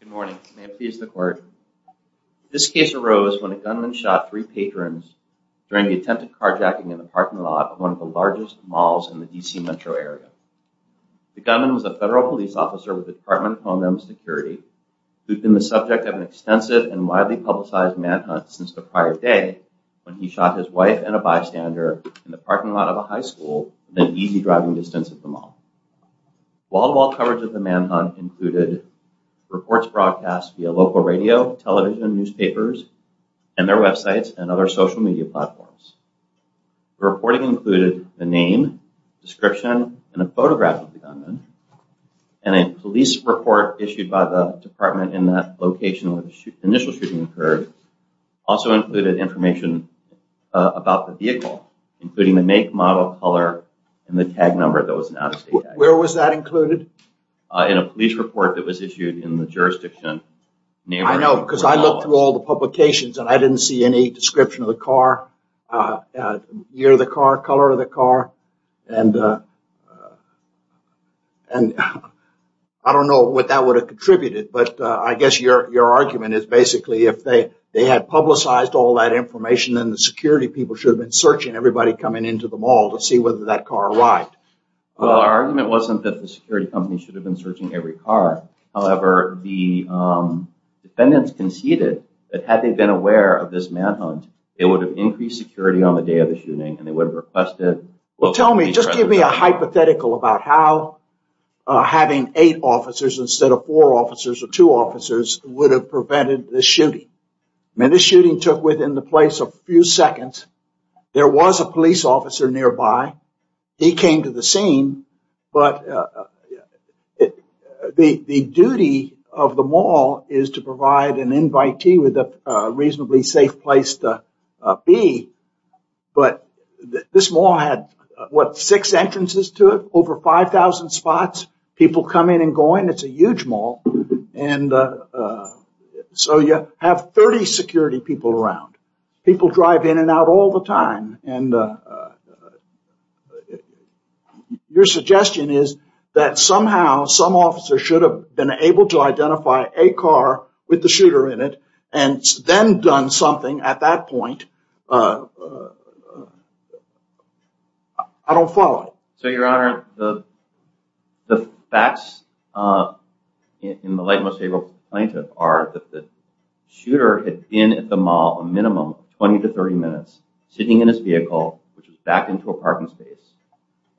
Good morning. May it please the court. This case arose when a gunman shot three patrons during the attempted carjacking in the parking lot of one of the largest malls in the D.C. metro area. The gunman was a federal police officer with the Department of Homeland Security who'd been the subject of an extensive and widely publicized manhunt since the prior day when he shot his wife and a bystander in the parking lot of a high school at an easy driving distance of the mall. Wall-to-wall coverage of the manhunt included reports broadcast via local radio, television, newspapers, and their websites and other social media platforms. The reporting included the name, description, and a photograph of the gunman, and a police report issued by the department in that location where the initial shooting occurred also included information about the vehicle including the make, model, color, and the tag number that was an out-of-state tag. Where was that included? In a police report that was issued in the jurisdiction. I know because I looked through all the publications and I didn't see any description of the car, year of the car, color of the car, and I don't know what that would have contributed but I guess your argument is basically if they had publicized all that information then the security people should have been searching everybody coming into the mall to see whether that car arrived. Well our argument wasn't that the security company should have been searching every car, however the defendants conceded that had they been aware of this manhunt they would have increased security on the day of the shooting and they would have requested. Well tell me, just give me a hypothetical about how having eight officers instead of four officers or two officers would have prevented the shooting. I mean the shooting took within the place of a few seconds, there was a police officer nearby, he came to the scene, but the duty of the mall is to provide an invitee with a reasonably safe place to be but this mall had what six entrances to it, over 5,000 spots, people come in and going, it's a huge mall and so you have 30 security people around. People drive in and out all the time and your suggestion is that somehow some officer should have been able to identify a car with the shooter in it and then done something at that point, I don't follow. So your honor, the facts in the light most able plaintiff are that the shooter had been at the mall a minimum of 20 to 30 minutes sitting in his vehicle which was a parking space.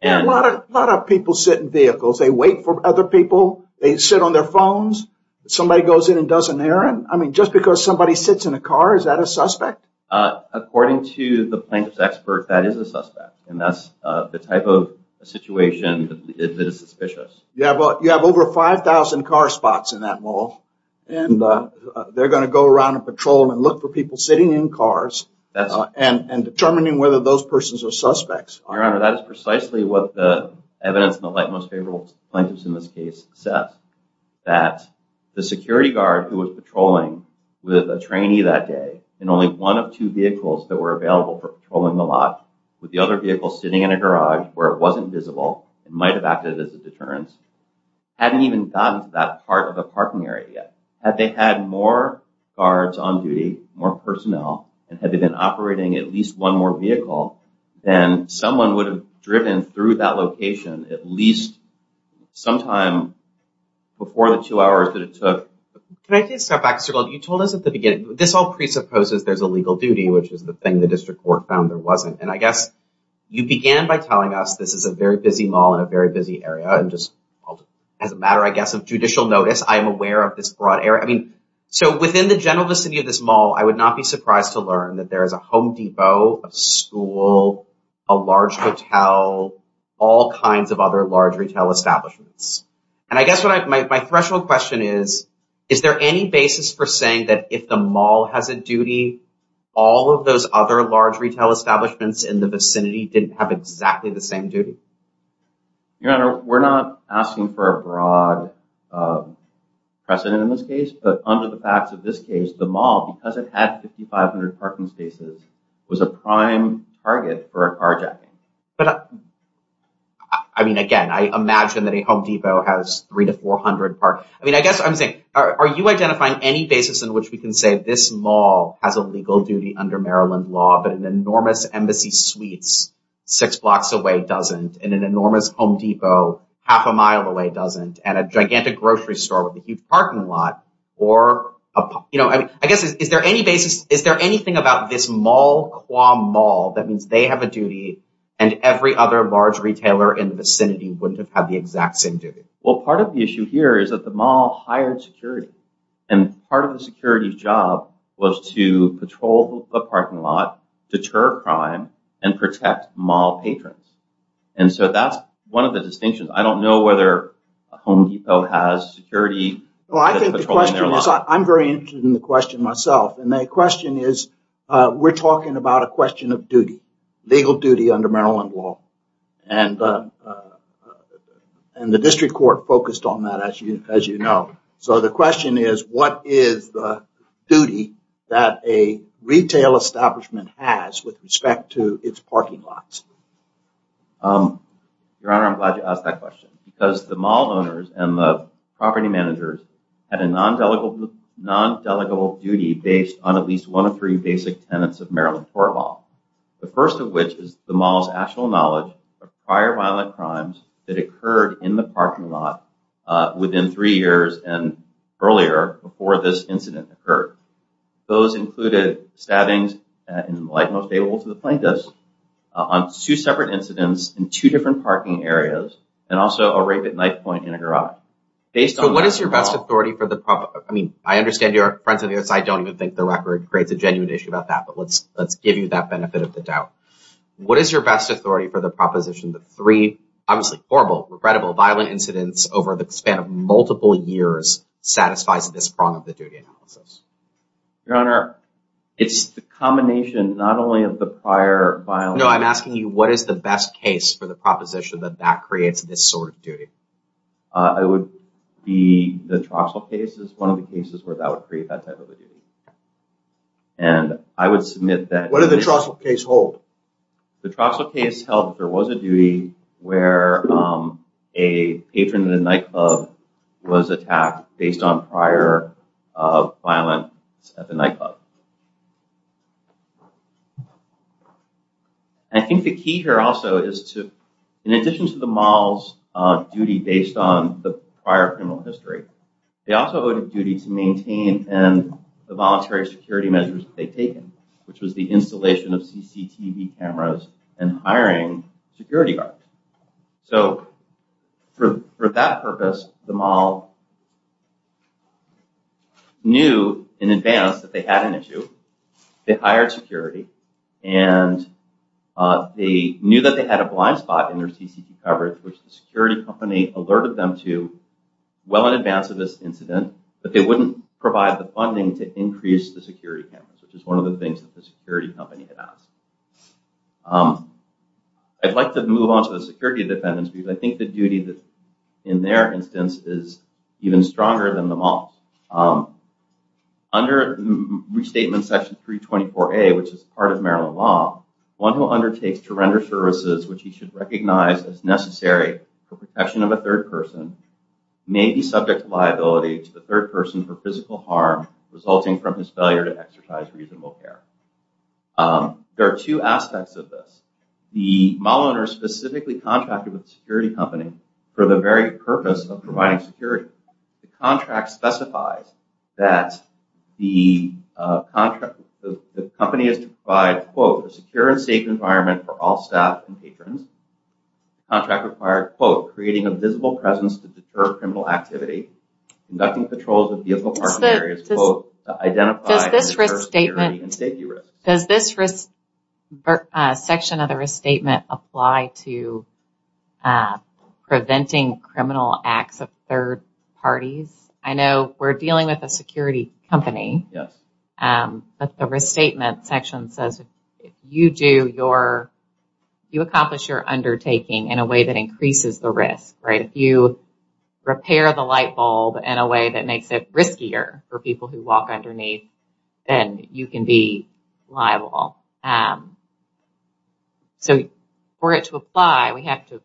A lot of people sit in vehicles, they wait for other people, they sit on their phones, somebody goes in and doesn't hear him, I mean just because somebody sits in a car is that a suspect? According to the plaintiff's expert that is a suspect and that's the type of situation that is suspicious. You have over 5,000 car spots in that mall and they're going to go around and look for people sitting in cars and determining whether those persons are suspects. Your honor, that is precisely what the evidence in the light most favorable plaintiffs in this case says, that the security guard who was patrolling with a trainee that day in only one of two vehicles that were available for patrolling the lot with the other vehicle sitting in a garage where it wasn't visible, it might have acted as a deterrence, hadn't even gotten to that part of the parking area yet. Had they had more guards on duty, more personnel, and had they been operating at least one more vehicle, then someone would have driven through that location at least some time before the two hours that it took. Can I please step back? You told us at the beginning this all presupposes there's a legal duty which is the thing the district court found there wasn't and I guess you began by telling us this is a very busy mall in a very busy area and just as a matter I guess of judicial notice, I am aware of this broad area. I mean, so within the general vicinity of this mall, I would not be surprised to learn that there is a Home Depot, a school, a large hotel, all kinds of other large retail establishments. And I guess what my threshold question is, is there any basis for saying that if the mall has a duty, all of those other large retail establishments in the vicinity didn't have exactly the same duty? Your Honor, we're not asking for a broad precedent in this case, but under the facts of this case, the mall, because it had 5,500 parking spaces, was a prime target for a carjacking. But I mean, again, I imagine that a Home Depot has three to four hundred parking spaces. I mean, I guess I'm saying, are you identifying any basis in which we can say this mall has a legal duty under Maryland law, but an enormous embassy suites six blocks away doesn't, and an enormous Home Depot half a mile away doesn't, and a gigantic grocery store with a huge parking lot or, you know, I mean, I guess is there any basis, is there anything about this mall qua mall that means they have a duty and every other large retailer in the vicinity wouldn't have had the exact same duty? Well, part of the issue here is that the mall hired security, and part of the security's job was to patrol the parking lot, deter crime, and protect mall patrons. And so that's one of the distinctions. I don't know whether Home Depot has security. Well, I think the question is, I'm very interested in the question myself, and the question is, we're talking about a question of duty, legal duty under Maryland law. And the district court focused on that, as you know. So the question is, what is the duty that a retail establishment has with respect to its parking lots? Your Honor, I'm glad you asked that question, because the mall owners and the property managers had a non-delegable duty based on at least one of three basic tenets of Maryland court law. The first of which is the mall's actual knowledge of prior violent crimes that occurred in the parking lot within three years and earlier, before this incident occurred. Those included stabbings, in the light most able to the plaintiffs, on two separate incidents in two different parking areas, and also a rape at night point in a garage. So what is your best authority for the problem? I mean, I understand you're friends on the other side. I don't even think the record creates a genuine issue about that, but let's give you that benefit of the doubt. What is your best authority for the proposition that three, obviously horrible, regrettable, violent incidents over the span of multiple years satisfies this prong of the duty analysis? Your Honor, it's the combination, not only of the prior violent... No, I'm asking you, what is the best case for the proposition that that creates this sort of duty? It would be the Troxell case is one of the cases where that would create that type of a duty. And I would submit that... What did the Troxell case hold? The Troxell case held there was a duty where a patron in a nightclub was attacked based on prior violence at the nightclub. I think the key here also is to, in addition to the mall's duty based on the prior criminal history, they also owed a duty to maintain the voluntary security measures that they'd taken, which was the installation of CCTV cameras and hiring security guards. So for that purpose, the mall knew in advance that they had an issue, they hired security, and they knew that they had a blind spot in their CCTV coverage, which the security company alerted them to well in advance of this incident, that they wouldn't provide the funding to increase the security cameras, which is one of the things that the security company had asked. I'd like to move on to the security defendants, because I think the duty that in their instance is even stronger than the mall's. Under restatement section 324A, which is part of Maryland law, one who undertakes to render services which he should recognize as necessary for protection of a third person may be subject to liability to the third person for physical harm resulting from his failure to exercise reasonable care. There are two aspects of this. The mall owner specifically contracted with the security company for the very purpose of providing security. The contract specifies that the company is to provide, quote, a secure and safe environment for all staff and patrons. The contract required, quote, creating a visible presence to deter criminal activity, conducting patrols of vehicle parking areas, quote, to identify and deter security and safety risks. Does this section of the restatement apply to preventing criminal acts of third parties? I know we're dealing with a security company. Yes. But the restatement section says if you do your, you accomplish your undertaking in a way that increases the risk, right? If you repair the light bulb in a way that makes it riskier for people who walk underneath, then you can be liable. So for it to apply, we have to,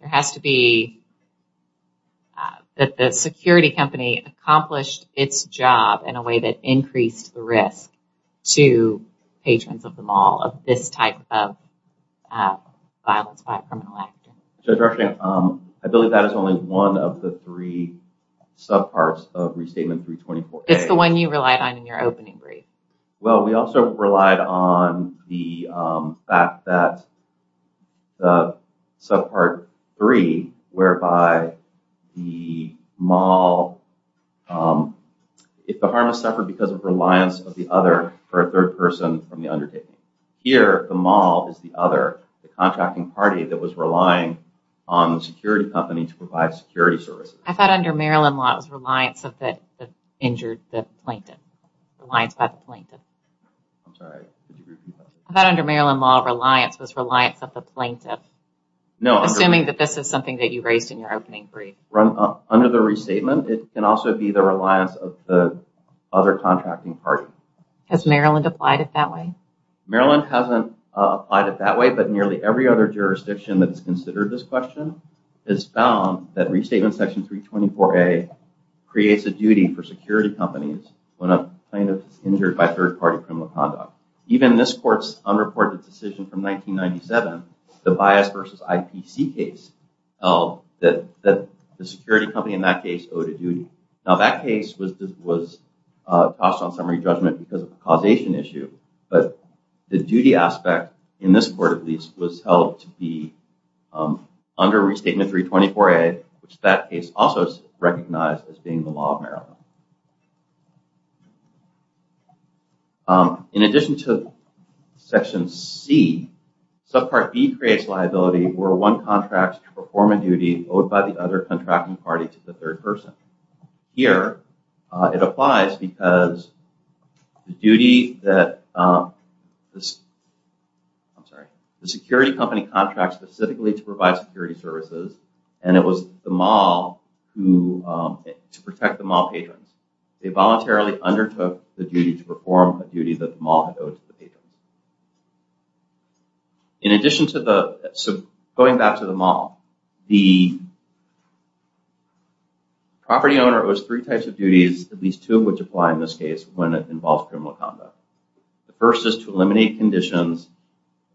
there has to be, that the security company accomplished its job in a way that increased the risk to patrons of the mall of this type of violence by a criminal actor. Judge Rushing, I believe that is only one of the three subparts of restatement 324A. It's the one you relied on in your opening brief. Well, we also relied on the fact that the subpart 3, whereby the mall, if the harmless suffered because of reliance of the other for a third person from the undertaking. Here, the mall is the other, the contracting party that was relying on the security company to provide security services. I thought under Maryland law, it was reliance of the injured, the plaintiff. Reliance by the plaintiff. I'm sorry, could you repeat that? I thought under Maryland law, reliance was reliance of the plaintiff. Assuming that this is something that you raised in your opening brief. Under the restatement, it can also be the reliance of the other contracting party. Has Maryland applied it that way? Maryland hasn't applied it that way, but nearly every other jurisdiction that has considered this question has found that restatement section 324A creates a duty for security companies when a plaintiff is injured by third party criminal conduct. Even this court's unreported decision from 1997, the bias versus IPC case, that the security company in that case owed a duty. Now, that case was tossed on summary judgment because of the causation issue, but the duty aspect, in this court at least, was held to be under restatement 324A, which that case also recognized as being the law of Maryland. In addition to section C, subpart B creates liability where one contracts to perform a duty owed by the other contracting party to the third person. Here, it applies because the security company contracts specifically to provide security services and it was the mall to protect the mall patrons. They voluntarily undertook the duty to perform a duty that the mall had owed to the patrons. Going back to the mall, the property owner owes three types of duties, at least two of which apply in this case when it involves criminal conduct. The first is to eliminate conditions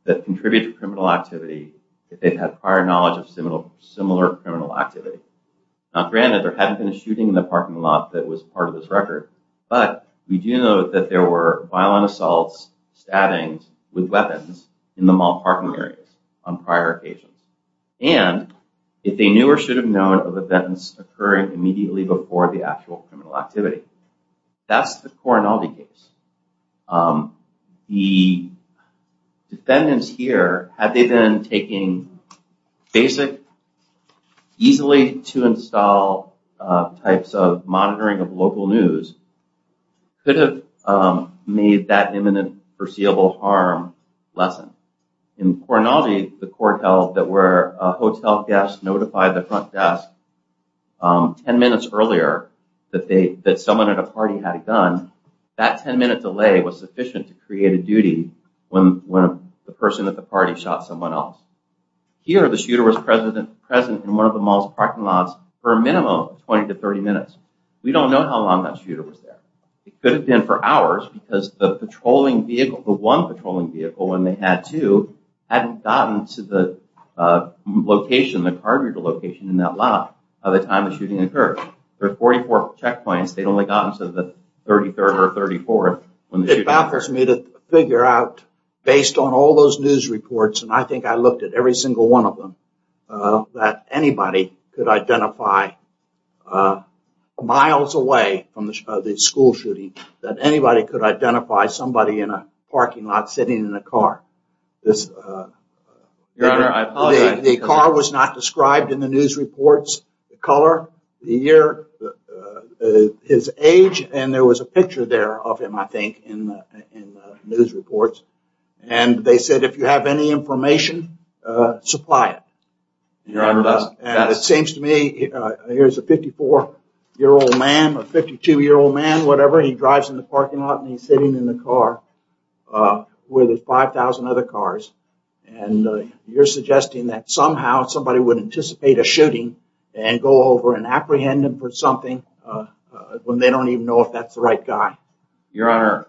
that contribute to criminal activity if they've had prior knowledge of similar criminal activity. Now, granted, there hadn't been a shooting in the parking lot that was part of this record, but we do know that there were violent assaults, stabbings with weapons in the mall parking areas on prior occasions, and if they knew or should have known of events occurring immediately before the actual criminal activity. That's the Coronado case. The defendants here, had they been taking basic, easily to install types of monitoring of local news, could have made that imminent foreseeable harm lessened. In Coronado, the court held that where a hotel guest notified the front desk 10 minutes earlier that someone at a party had a gun, that 10-minute delay was sufficient to create a duty when the person at the party shot someone else. Here, the shooter was present in one of the mall's parking lots for a minimum of 20 to 30 minutes. We don't know how long that shooter was there. It could have been for hours because the patrolling vehicle, the one patrolling vehicle when they had two, hadn't gotten to the location, the cargo location in that lot by the time the shooting occurred. There are 44 checkpoints. They'd only gotten to the 33rd or 34th. It baffles me to figure out, based on all those news reports, and I think I looked at every single one of them, that anybody could identify miles away from the school shooting, that anybody could identify somebody in a parking lot sitting in a car. The car was not described in the news reports, the color, the year, his age, and there was a picture there of him, I think, in the news reports, and they said, if you have any information, supply it. It seems to me, here's a 54-year-old man, a 52-year-old man, whatever, he drives in the parking lot and he's sitting in the car with 5,000 other cars, and you're suggesting that somehow somebody would anticipate a shooting and go over and apprehend him for something when they don't even know if that's the right guy? Your Honor,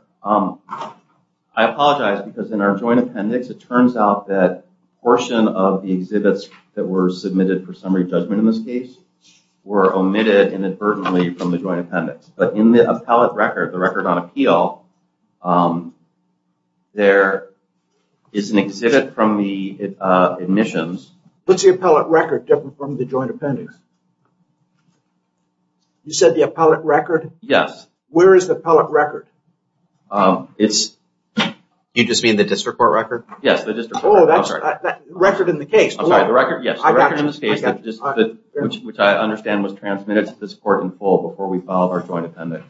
I apologize because in our joint appendix, it turns out that a portion of the exhibits that were submitted for summary judgment in this case were omitted inadvertently from the joint appendix, but in the appellate record, the record on appeal, there is an exhibit from the admissions. What's the appellate record different from the joint appendix? You said the appellate record? Yes. Where is the appellate record? You just mean the district court record? Yes, the district court record. Oh, that record in the case. I'm sorry, the record, yes, the record in this case, which I understand was transmitted to this court in full before we filed our joint appendix,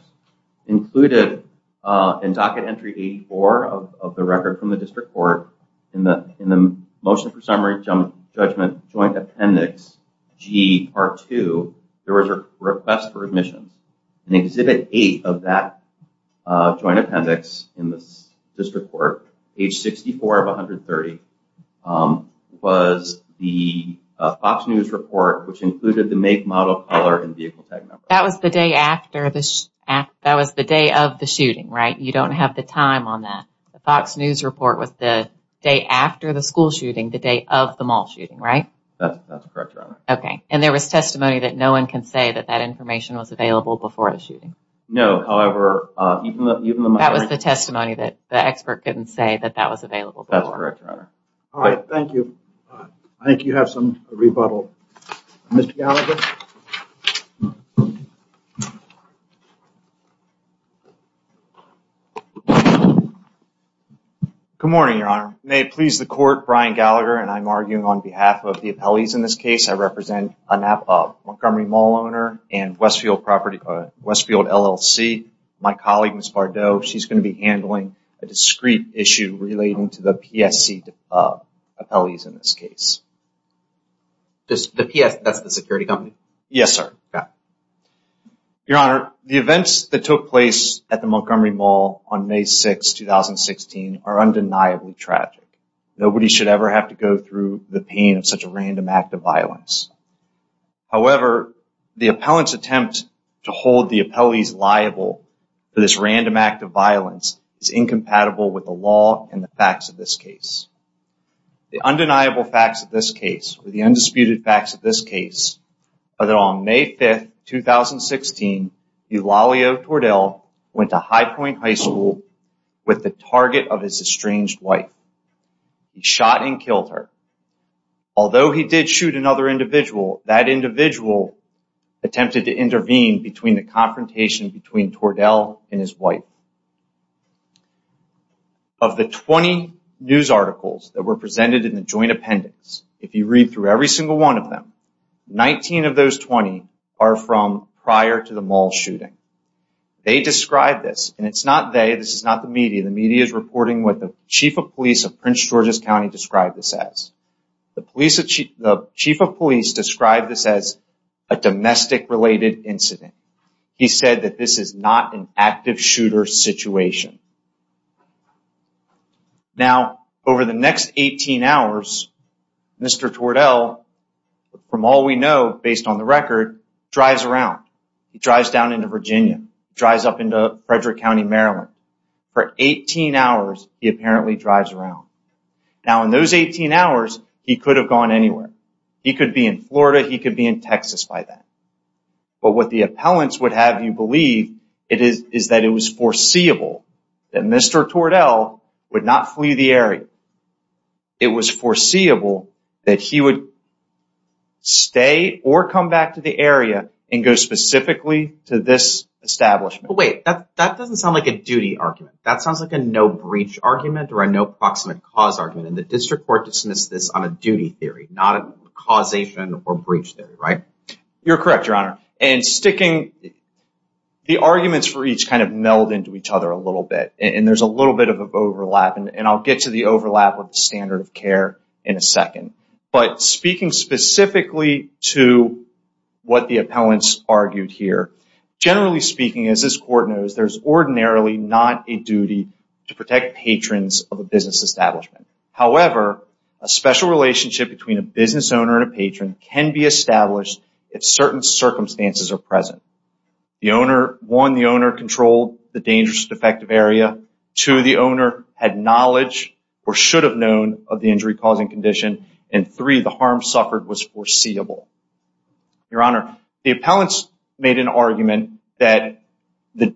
included in docket entry 84 of the record from the district court in the motion for summary judgment joint appendix G part two, there was a request for admissions. In exhibit eight of that joint appendix in this district court, age 64 of 130, was the Fox News report, which included the make, model, color, and vehicle tag number. That was the day of the shooting, right? You don't have the time on that. The Fox News report was the day after the school shooting, the day of the mall shooting, right? That's correct, Your Honor. Okay, and there was testimony that no one can say that that information was available before the shooting. No, however, even the- That was the testimony that the expert couldn't say that that was available before. That's correct, Your Honor. All right, thank you. I think you have some rebuttal. Mr. Gallagher. Good morning, Your Honor. May it please the court, Brian Gallagher, and I'm arguing on behalf of the appellees in this case. I represent a Montgomery Mall owner and Westfield LLC. My colleague, Ms. Bardot, she's going to be handling a discrete issue relating to the PSC appellees in this case. That's the security company? Yes, sir. Your Honor, the events that took place at the Montgomery Mall on May 6, 2016 are undeniably tragic. Nobody should ever have to go through the pain of such a random act of violence. However, the appellant's attempt to hold the appellees liable for this random act of violence is incompatible with the law and the facts of this case. The undeniable facts of this case, or the undisputed facts of this case, are that on May 5, 2016, Eulalio Tordell went to High Point High School with the target of his estranged wife. He shot and killed her. Although he did shoot another individual, that individual attempted to intervene between the confrontation between Tordell and his wife. Of the 20 news articles that were presented in the joint appendix, if you read through every single one of them, 19 of those 20 are from prior to the mall shooting. They describe this, and it's not they, this is not the media. The media is reporting what the chief of police of Prince George's County described this as. The chief of police described this as a domestic-related incident. He said that this is not an active shooter situation. Now, over the next 18 hours, Mr. Tordell, from all we know, based on the record, drives around. He drives down into Virginia, drives up into Frederick County, Maryland. For 18 hours, he apparently drives around. Now, in those 18 hours, he could have gone anywhere. He could be in Florida, he could be in Texas by then. But what the appellants would have you believe is that it was foreseeable that Mr. Tordell would not flee the area. It was foreseeable that he would stay or come back to the area and go specifically to this establishment. Wait, that doesn't sound like a duty argument. That sounds like a no-breach argument or a no-proximate-cause argument. And the district court dismissed this on a duty theory, not a causation or breach theory, right? You're correct, Your Honor. And sticking, the arguments for each kind of meld into each other a little bit. And there's a little bit of an overlap. And I'll get to the overlap with the standard of care in a second. But speaking specifically to what the appellants argued here, generally speaking, as this court knows, there's ordinarily not a duty to protect patrons of a business establishment. However, a special relationship between a business owner and a patron can be established if certain circumstances are present. One, the owner controlled the dangerous or defective area. Two, the owner had knowledge or should have known of the injury-causing condition. And three, the harm suffered was foreseeable. Your Honor, the appellants made an argument that the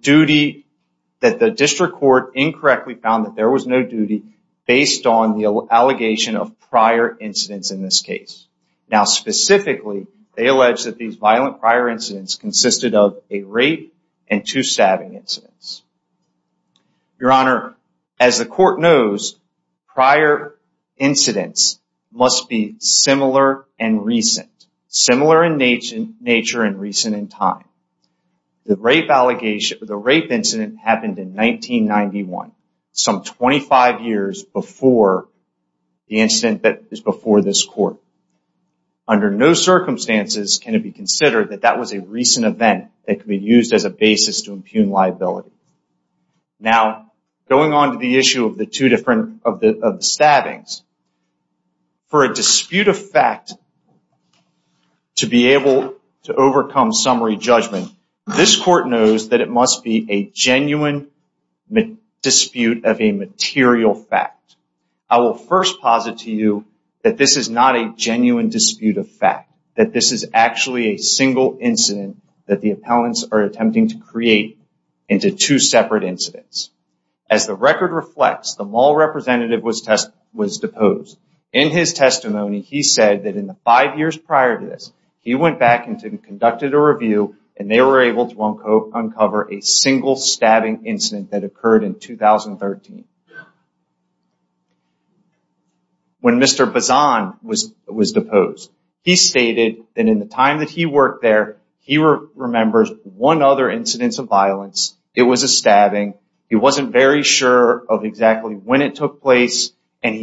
district court incorrectly found that there was no duty based on the allegation of prior incidents in this case. Now, specifically, they allege that these violent prior incidents consisted of a rape and two stabbing incidents. Your Honor, as the court knows, prior incidents must be similar and recent. Similar in nature and recent in time. The rape incident happened in 1991, some 25 years before the incident that is before this court. Under no circumstances can it be considered that that was a recent event that could be used as a basis to impugn liability. Now, going on to the issue of the two different stabbings, for a dispute of fact to be able to overcome summary judgment, this court knows that it must be a genuine dispute of a material fact. I will first posit to you that this is not a genuine dispute of fact, that this is actually a single incident that the appellants are attempting to create into two separate incidents. As the record reflects, the mall representative was divorced In his testimony, he said that in the five years prior to this, he went back and conducted a review and they were able to uncover a single stabbing incident that occurred in 2013. When Mr. Bazan was deposed, he stated that in the time that he worked there, he remembers one other incidents of violence. It was a stabbing. He wasn't very sure of exactly when it took place and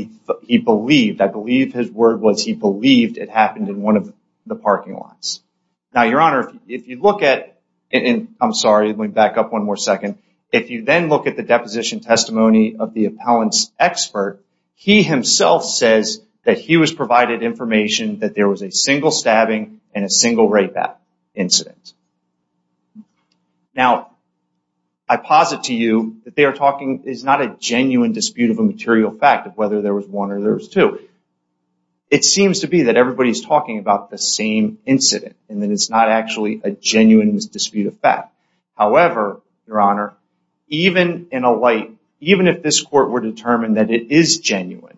he believed, I believe his word was he believed it happened in one of the parking lots. Now, Your Honor, if you look at... I'm sorry, let me back up one more second. If you then look at the deposition testimony of the appellant's expert, he himself says that he was provided information that there was a single stabbing and a single rape incident. Now, I posit to you that they are talking, it's not a genuine dispute of a material fact of whether there was one or there was two. It seems to be that everybody's talking about the same incident and that it's not actually a genuine dispute of fact. However, Your Honor, even in a light, even if this court were determined that it is genuine,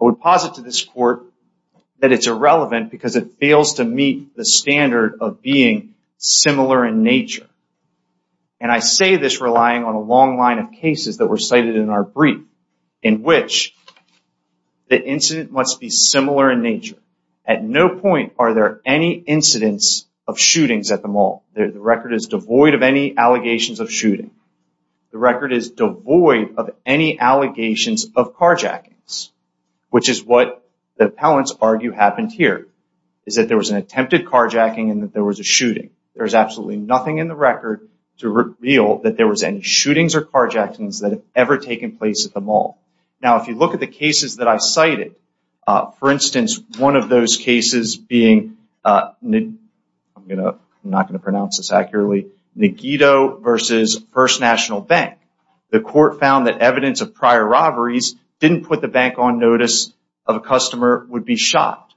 I would posit to this court that it's irrelevant because it fails to meet the standard of being similar in nature. And I say this relying on a long line of cases that were cited in our brief in which the incident must be similar in nature. At no point are there any incidents of shootings at the mall. The record is devoid of any allegations of shooting. The record is devoid of any allegations of carjackings, which is what the appellants argue happened here, is that there was an attempted carjacking and that there was a shooting. There's absolutely nothing in the record to reveal that there was any shootings or carjackings that have ever taken place at the mall. Now, if you look at the cases that I've cited, for instance, one of those cases being, I'm not going to pronounce this accurately, Nogito versus First National Bank. The court found that evidence of prior robberies didn't put the bank on notice of a customer would be shot.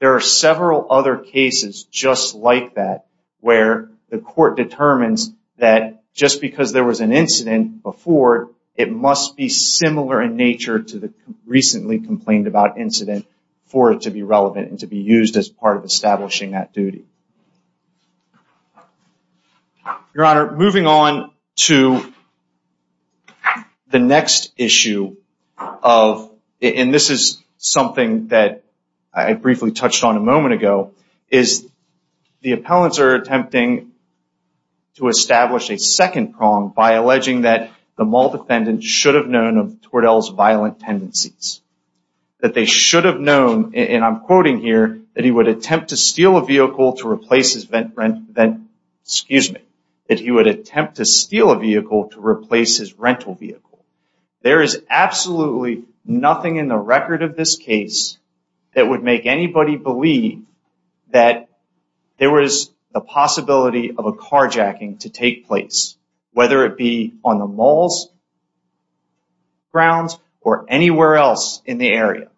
There are several other cases just like that where the court determines that just because there was an incident before, it must be similar in nature to the recently complained about incident for it to be relevant and to be used as part of establishing that duty. Your Honor, moving on to the next issue of, and this is something that I briefly touched on a moment ago, is the appellants are attempting to establish a second prong by alleging that the mall defendant should have known of Tordell's violent tendencies. That they should have known, and I'm quoting here, that he would attempt to steal a vehicle to replace his, excuse me, that he would attempt to steal a vehicle to replace his rental vehicle. There is absolutely nothing in the record of this case that would make anybody believe that there was the possibility of a carjacking to take place, whether it be on the mall's grounds or anywhere else in the area.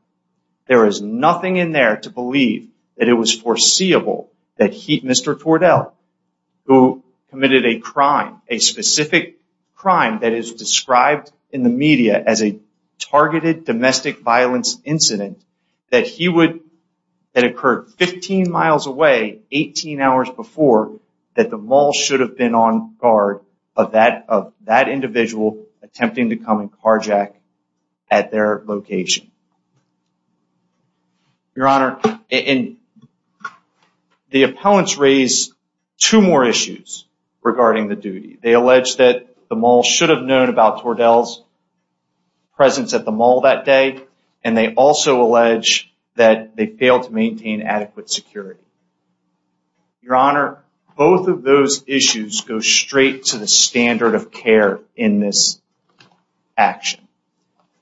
There is nothing in there to believe that it was foreseeable that he, Mr. Tordell, who committed a crime, a specific crime that is described in the media as a targeted domestic violence incident, that he would, that occurred 15 miles away, 18 hours before, that the mall should have been on guard of that individual attempting to come and carjack at their location. Your Honor, the appellants raise two more issues regarding the duty. They allege that the mall should have known about Tordell's presence at the mall that day, and they also allege that they failed to maintain adequate security. Your Honor, both of those issues go straight to the standard of care in this action.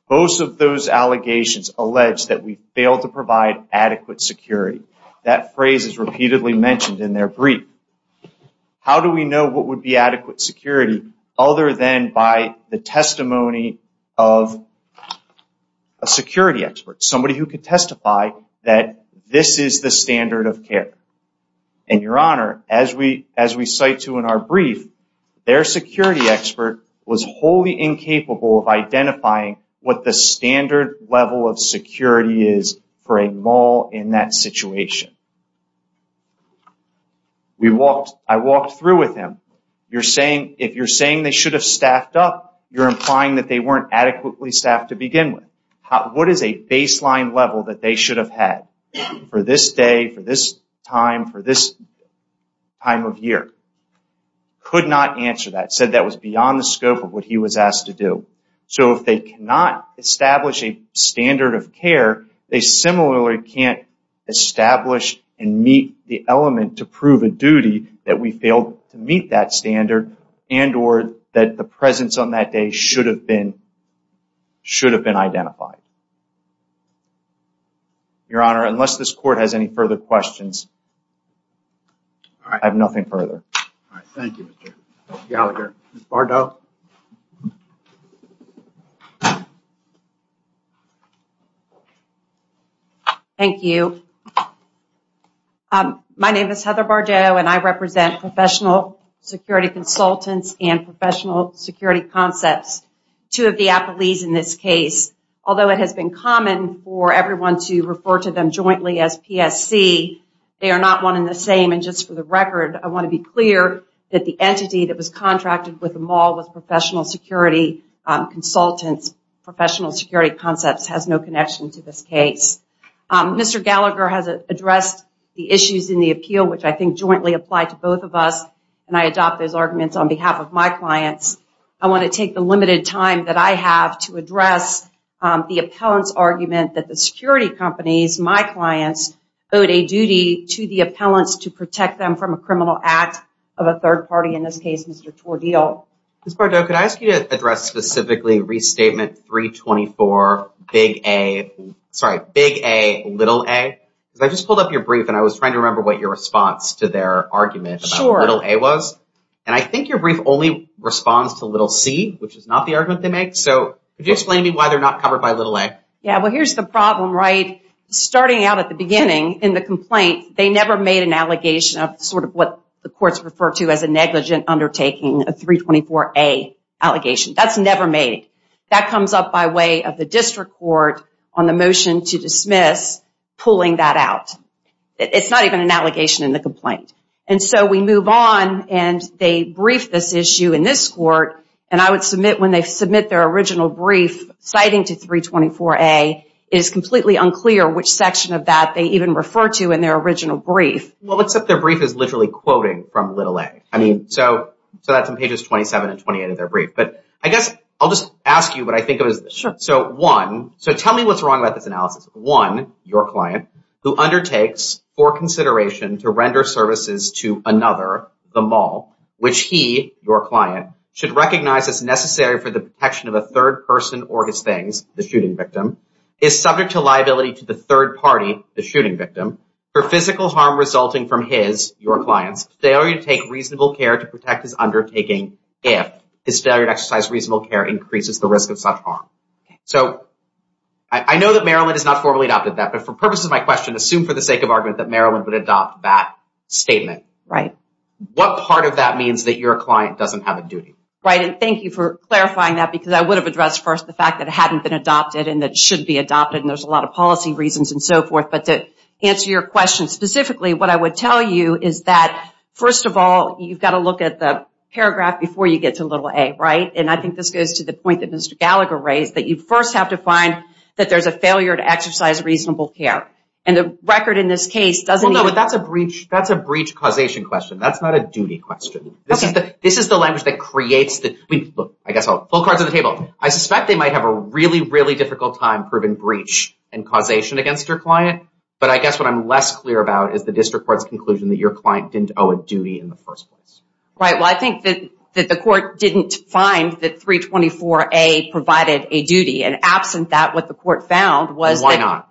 Both of those allegations allege that we failed to provide adequate security. That phrase is repeatedly mentioned in their brief. How do we know what would be adequate security other than by the testimony of a security expert, somebody who could testify that this is the standard of care? And Your Honor, as we cite to in our brief, their security expert was wholly incapable of identifying what the standard level of security is for a mall in that situation. We walked, I walked through with him. You're saying, if you're saying they should have staffed up, you're implying that they weren't adequately staffed to begin with. What is a baseline level that they should have had for this day, for this time, for this time of year? Could not answer that. Said that was beyond the scope of what he was asked to do. So if they cannot establish a standard of care, they similarly can't establish and meet the element to prove a duty that we failed to meet that standard and or that the presence on that day should have been, should have been identified. Your Honor, unless this court has any further questions, I have nothing further. All right, thank you, Mr. Gallagher. Ms. Bardot. Thank you. My name is Heather Bardot, and I represent Professional Security Consultants and Professional Security Concepts, two of the appellees in this case. Although it has been common for everyone to refer to them jointly as PSC, they are not one in the same. And just for the record, I want to be clear that the entity that was contracted with the mall was Professional Security Consultants. Professional Security Concepts has no connection to this case. Mr. Gallagher has addressed the issues in the appeal, which I think jointly apply to both of us. And I adopt those arguments on behalf of my clients. I want to take the limited time that I have to address the appellant's argument that the security companies, my clients, owed a duty to the appellants to protect them from a criminal act of a third party, in this case, Mr. Tordil. Ms. Bardot, could I ask you to address specifically Restatement 324, Big A, sorry, Big A, Little A? Because I just pulled up your brief and I was trying to remember what your response to their argument about Little A was. And I think your brief only responds to Little C, which is not the argument they make. So could you explain to me why they're not covered by Little A? Yeah, well, here's the problem, right? Starting out at the beginning in the complaint, they never made an allegation of sort of what the courts refer to as a negligent undertaking, a 324A allegation. That's never made. That comes up by way of the district court on the motion to dismiss pulling that out. It's not even an allegation in the complaint. And so we move on and they brief this issue in this court and I would submit when they submit their original brief, citing to 324A, it is completely unclear which section of that they even refer to in their original brief. Well, except their brief is literally quoting from Little A. I mean, so that's on pages 27 and 28 of their brief. But I guess I'll just ask you what I think of this. Sure. So one, so tell me what's wrong about this analysis. One, your client who undertakes for consideration to render services to another, the mall, which he, your client, should recognize as necessary for the protection of a third person or his things, the shooting victim, is subject to liability to the third party, the shooting victim, for physical harm resulting from his, your client's, failure to take reasonable care to protect his undertaking if his failure to exercise reasonable care increases the risk of such harm. So I know that Maryland has not formally adopted that, but for purposes of my question, assume for the sake of argument that Maryland would adopt that statement. Right. What part of that means that your client doesn't have a duty? Right, and thank you for clarifying that because I would have addressed first the fact that it hadn't been adopted and that it should be adopted and there's a lot of policy reasons and so forth. But to answer your question specifically, what I would tell you is that first of all, you've got to look at the paragraph before you get to little A, right? And I think this goes to the point that Mr. Gallagher raised, that you first have to find that there's a failure to exercise reasonable care. And the record in this case doesn't even... Well, no, but that's a breach causation question. That's not a duty question. Okay. This is the language that creates the... I mean, look, I guess I'll... Full cards on the table. I suspect they might have a really, really difficult time proving breach and causation against your client. But I guess what I'm less clear about is the district court's conclusion that your client didn't owe a duty in the first place. Right. Well, I think that the court didn't find that 324A provided a duty. And absent that, what the court found was that... Why not?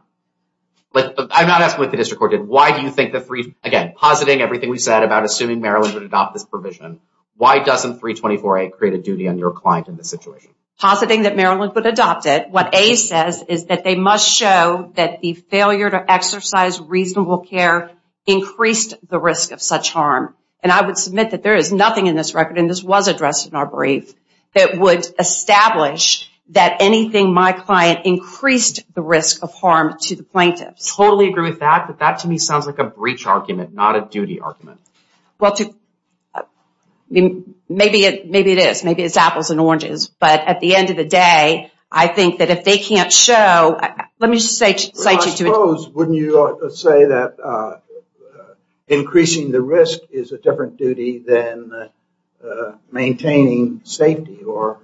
I'm not asking what the district court did. Why do you think the three... Again, positing everything we said about assuming Maryland would adopt this provision, why doesn't 324A create a duty on your client in this situation? Positing that Maryland would adopt it, what A says is that they must show that the failure to exercise reasonable care increased the risk of such harm. And I would submit that there is nothing in this record, and this was addressed in our brief, that would establish that anything my client increased the risk of harm to the plaintiffs. Totally agree with that, but that to me sounds like a breach argument, not a duty argument. Maybe it is. Maybe it's apples and oranges. But at the end of the day, I think that if they can't show... Let me just cite you to... Wouldn't you say that increasing the risk is a different duty than maintaining safety or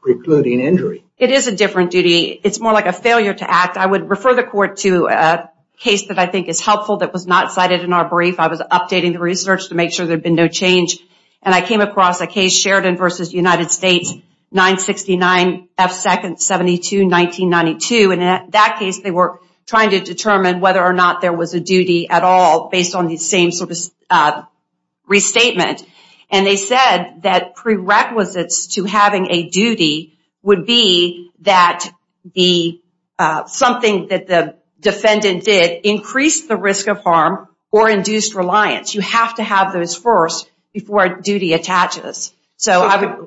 precluding injury? It is a different duty. It's more like a failure to act. I would refer the court to a case that I think is helpful that was not cited in our brief. I was updating the research to make sure there'd been no change. And I came across a case, Sheridan versus United States, 969F2-72-1992. And in that case, they were trying to determine whether or not there was a duty at all based on the same sort of restatement. And they said that prerequisites to having a duty would be that something that the defendant did increased the risk of harm or induced reliance. You have to have those first before duty attaches. The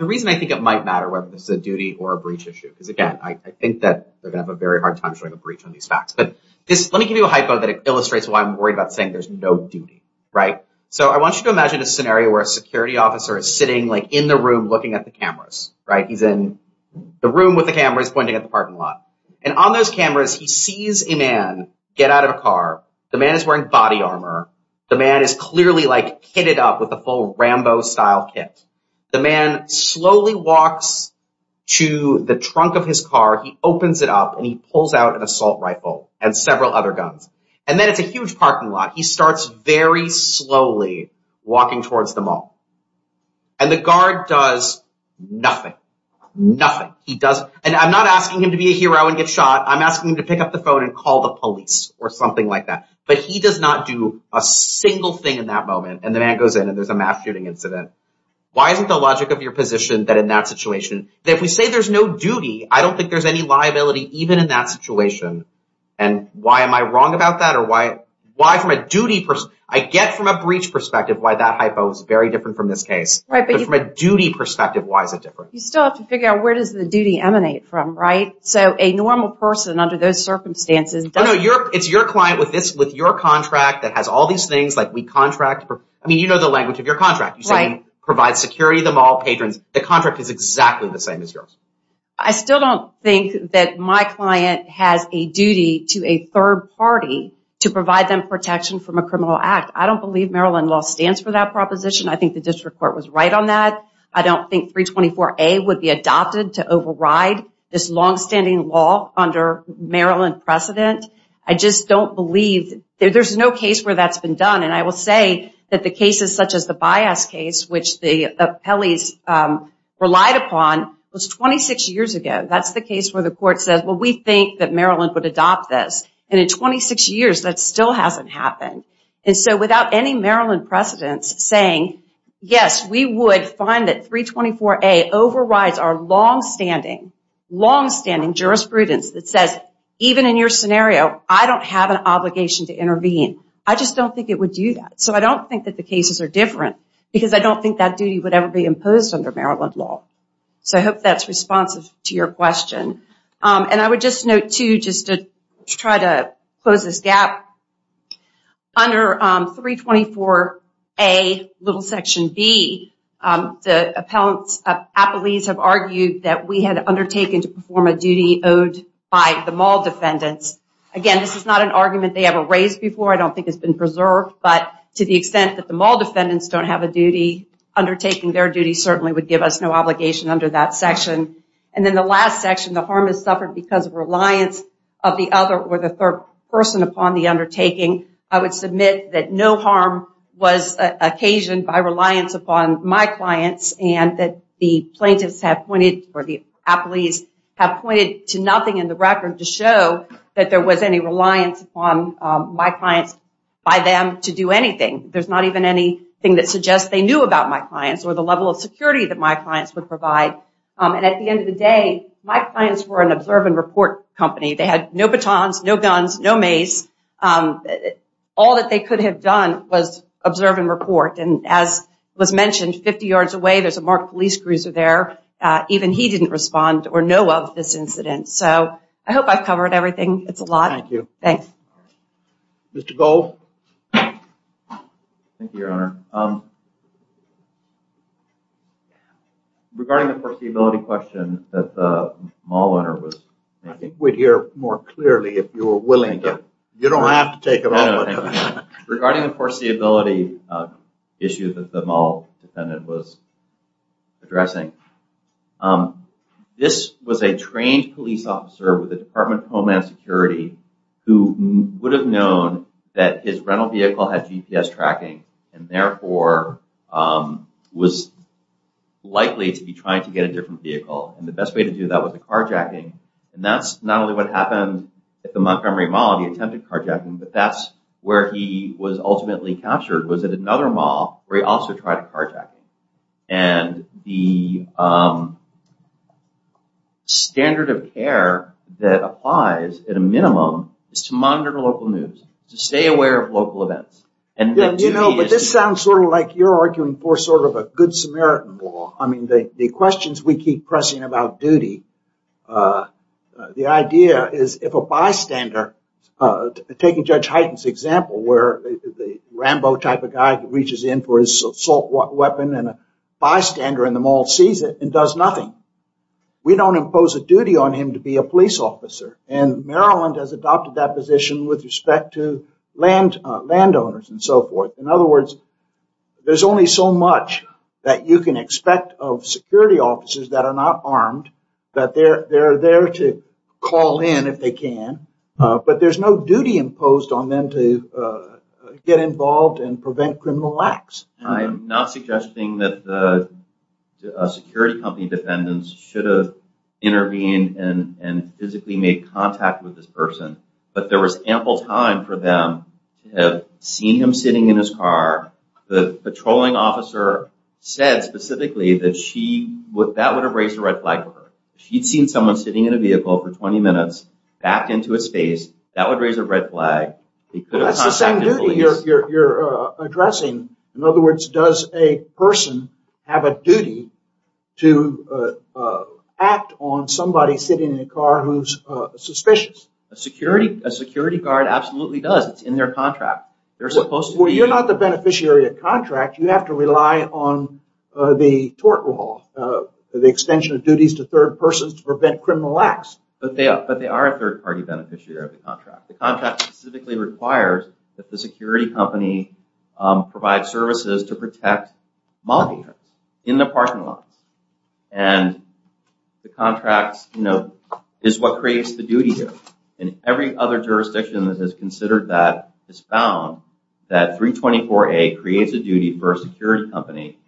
reason I think it might matter whether this is a duty or a breach issue, is again, I think that they're gonna have a very hard time showing a breach on these facts. But let me give you a hypo that illustrates why I'm worried about saying there's no duty, right? So I want you to imagine a scenario where a security officer is sitting like in the room looking at the cameras, right? He's in the room with the cameras pointing at the parking lot. And on those cameras, he sees a man get out of a car. The man is wearing body armor. The man is clearly like kitted up with a full Rambo style kit. The man slowly walks to the trunk of his car. He opens it up and he pulls out an assault rifle and several other guns. And then it's a huge parking lot. He starts very slowly walking towards the mall. And the guard does nothing, nothing. He doesn't. And I'm not asking him to be a hero and get shot. I'm asking him to pick up the phone and call the police or something like that. But he does not do a single thing in that moment. And the man goes in and there's a mass shooting incident. Why isn't the logic of your position that in that situation, that if we say there's no duty, I don't think there's any liability even in that situation. And why am I wrong about that? Or why from a duty... I get from a breach perspective why that hypo is very different from this case. But from a duty perspective, why is it different? You still have to figure out where does the duty emanate from, right? So a normal person under those circumstances... No, no. It's your client with your contract that has all these things. Like we contract for... I mean, you know the language of your contract. Provide security to the mall patrons. The contract is exactly the same as yours. I still don't think that my client has a duty to a third party to provide them protection from a criminal act. I don't believe Maryland law stands for that proposition. I think the district court was right on that. I don't think 324A would be adopted to override this longstanding law under Maryland precedent. I just don't believe... There's no case where that's been done. And I will say that the cases such as the Bias case, which the appellees relied upon, was 26 years ago. That's the case where the court says, well, we think that Maryland would adopt this. And in 26 years, that still hasn't happened. And so without any Maryland precedents saying, yes, we would find that 324A overrides our longstanding, longstanding jurisprudence that says, even in your scenario, I don't have an obligation to intervene. I just don't think it would do that. So I don't think that the cases are different because I don't think that duty would ever be imposed under Maryland law. So I hope that's responsive to your question. And I would just note too, just to try to close this gap, under 324A, little section B, the appellees have argued that we had undertaken to perform a duty owed by the mall defendants. Again, this is not an argument they ever raised before. I don't think it's been preserved. But to the extent that the mall defendants don't have a duty, undertaking their duty certainly would give us no obligation under that section. And then the last section, the harm is suffered because of reliance of the other or the third person upon the undertaking. I would submit that no harm was occasioned by reliance upon my clients and that the plaintiffs have pointed or the appellees have pointed to nothing in the record to show that there was any reliance upon my clients by them to do anything. There's not even anything that suggests they knew about my clients or the level of security that my clients would provide. And at the end of the day, my clients were an observe and report company. They had no batons, no guns, no mace. All that they could have done was observe and report. And as was mentioned, 50 yards away, there's a marked police cruiser there. Even he didn't respond or know of this incident. So I hope I've covered everything. It's a lot. Thank you. Thanks. Mr. Gold? Thank you, Your Honor. Regarding the foreseeability question that the mall owner was... I think we'd hear more clearly if you were willing to. You don't have to take it off. Regarding the foreseeability issue that the mall defendant was addressing, this was a trained police officer with the Department of Homeland Security who would have known that his rental vehicle had GPS tracking and therefore was likely to be trying to get a different vehicle. And the best way to do that was a carjacking. And that's not only what happened at the Montgomery Mall. He attempted carjacking, but that's where he was ultimately captured was at another mall where he also tried a carjacking. And the standard of care that applies at a minimum is to monitor local news, to stay aware of local events. But this sounds sort of like you're arguing for sort of a good Samaritan law. I mean, the questions we keep pressing about duty, the idea is if a bystander, taking Judge Hyten's example where the Rambo type of guy reaches in for his assault weapon and a bystander in the mall sees it and does nothing. We don't impose a duty on him to be a police officer. And Maryland has adopted that position with respect to landowners and so forth. In other words, there's only so much that you can expect of security officers that are not armed, that they're there to call in if they can. But there's no duty imposed on them to get involved and prevent criminal acts. I'm not suggesting that the security company defendants should have intervened and physically made contact with this person, but there was ample time for them to have seen him sitting in his car. The patrolling officer said specifically that that would have raised a red flag for her. She'd seen someone sitting in a vehicle for 20 minutes, backed into a space, that would raise a red flag. They could have contacted the police. That's the same duty you're addressing. In other words, does a person have a duty to act on somebody sitting in a car who's suspicious? A security guard absolutely does. It's in their contract. They're supposed to be... Well, you're not the beneficiary of the contract. You have to rely on the tort law, the extension of duties to third persons to prevent criminal acts. But they are a third party beneficiary of the contract. The contract specifically requires that the security company provide services to protect multi-parts in the parking lot. And the contract is what creates the duty here. And every other jurisdiction that has considered that has found that 324A creates a duty for a security company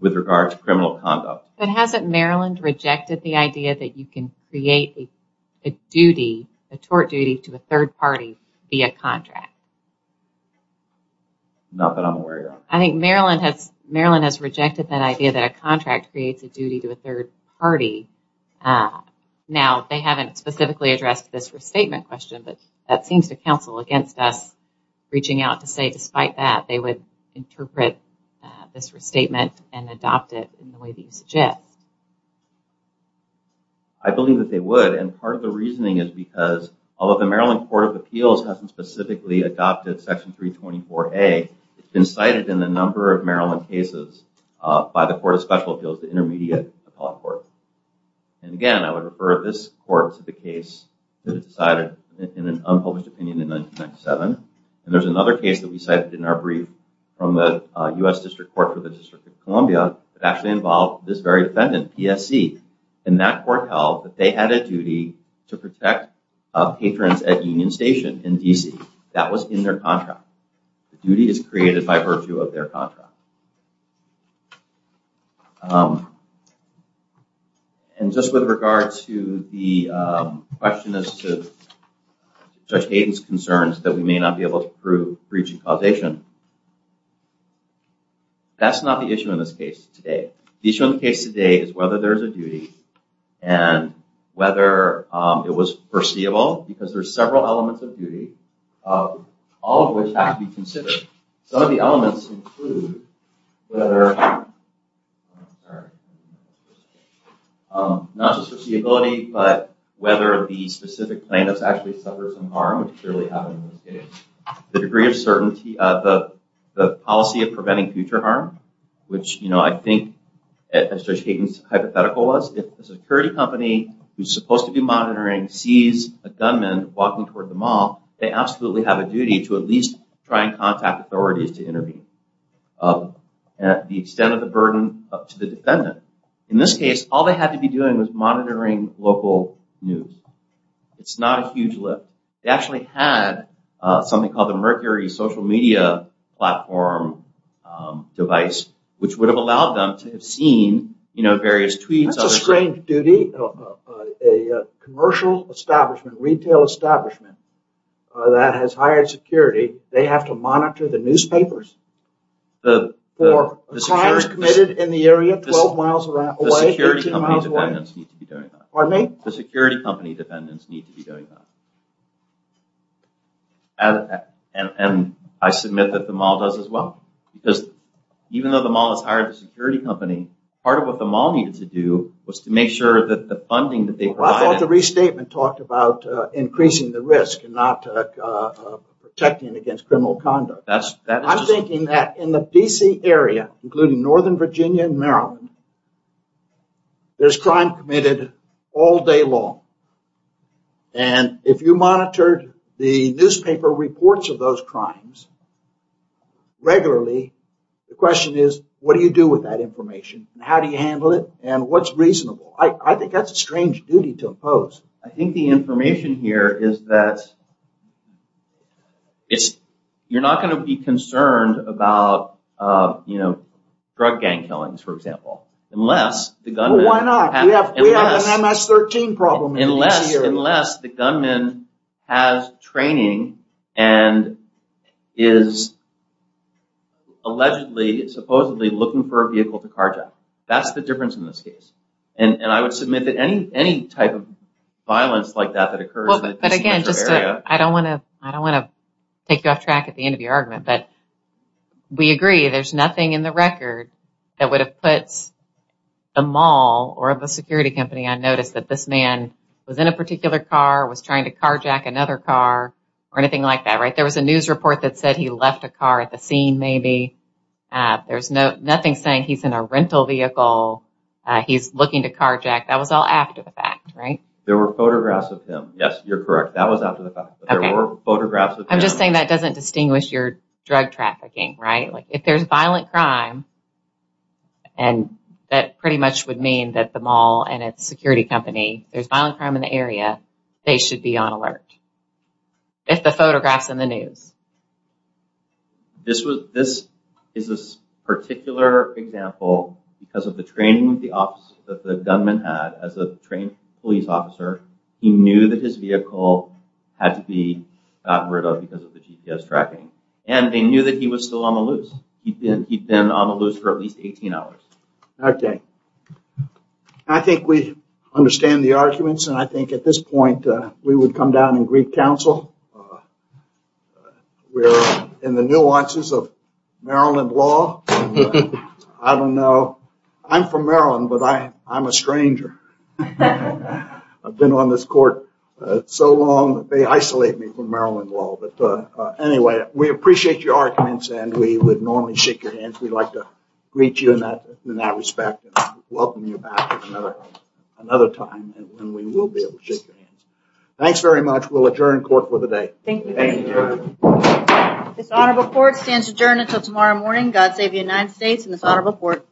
with regard to criminal conduct. But hasn't Maryland rejected the idea that you can create a duty, a tort duty to a third party via contract? Not that I'm aware of. I think Maryland has rejected that idea that a contract creates a duty to a third party. Now, they haven't specifically addressed this restatement question, but that seems to counsel against us reaching out to say, despite that, they would interpret this restatement and adopt it in the way that you suggest. I believe that they would. And part of the reasoning is because, although the Maryland Court of Appeals hasn't specifically adopted Section 324A, it's been cited in a number of Maryland cases by the Court of Special Appeals, the intermediate appellate court. And again, I would refer this court to the case that it decided in an unpublished opinion in 1997. And there's another case that we cited in our brief from the US District Court for the District of Columbia that actually involved this very defendant, PSC. And that court held that they had a duty to protect patrons at Union Station in D.C. That was in their contract. The duty is created by virtue of their contract. And just with regard to the question as to Judge Hayden's concerns that we may not be able to prove breach and causation, that's not the issue in this case today. The issue in the case today is whether there is a duty and whether it was foreseeable because there's several elements of duty, all of which have to be considered. Some of the elements include whether, not just foreseeability, but whether the specific plaintiffs actually suffered some harm, which clearly happened in this case. The degree of certainty, the policy of preventing future harm, which I think, as Judge Hayden's hypothetical was, if a security company who's supposed to be monitoring sees a gunman walking toward the mall, they absolutely have a duty to at least try and contact authorities to intervene. The extent of the burden up to the defendant. In this case, all they had to be doing was monitoring local news. It's not a huge lift. They actually had something called the Mercury social media platform device, which would have allowed them to have seen various tweets. That's a strange duty. A commercial establishment, retail establishment that has hired security, they have to monitor the newspapers? For crimes committed in the area 12 miles away, 13 miles away. Pardon me? The security company defendants need to be doing that. And I submit that the mall does as well because even though the mall has hired a security company, part of what the mall needed to do was to make sure that the funding that they provide... I thought the restatement talked about increasing the risk and not protecting against criminal conduct. I'm thinking that in the DC area, including Northern Virginia and Maryland, there's crime committed all day long. And if you monitored the newspaper reports of those crimes regularly, the question is, what do you do with that information? How do you handle it? And what's reasonable? I think that's a strange duty to impose. I think the information here is that you're not going to be concerned about drug gang killings, for example, unless the gunman... Why not? We have an MS-13 problem in DC. Unless the gunman has training and is allegedly, supposedly looking for a vehicle to carjack. That's the difference in this case. And I would submit that any type of violence like that that occurs in the DC metro area... But again, I don't want to take you off track at the end of your argument, but we agree there's nothing in the record that would have put the mall or the security company on notice that this man was in a particular car, was trying to carjack another car or anything like that, right? There was a news report that said he left a car at the scene maybe there's nothing saying he's in a rental vehicle, he's looking to carjack. That was all after the fact, right? There were photographs of him. Yes, you're correct. That was after the fact. But there were photographs of him. I'm just saying that doesn't distinguish your drug trafficking, right? If there's violent crime and that pretty much would mean that the mall and its security company, there's violent crime in the area, they should be on alert. If the photograph's in the news. This is a particular example because of the training that the gunman had as a trained police officer. He knew that his vehicle had to be got rid of because of the GPS tracking. And they knew that he was still on the loose. He'd been on the loose for at least 18 hours. Okay. I think we understand the arguments and I think at this point, we would come down and greet counsel. We're in the nuances of Maryland law. I don't know. I'm from Maryland, but I'm a stranger. I've been on this court so long that they isolate me from Maryland law. But anyway, we appreciate your arguments and we would normally shake your hands. We'd like to greet you in that respect and welcome you back at another time when we will be able to shake your hands. Thanks very much. We'll adjourn court with a motion. Thank you. This honorable court stands adjourned until tomorrow morning. God save the United States and this honorable court.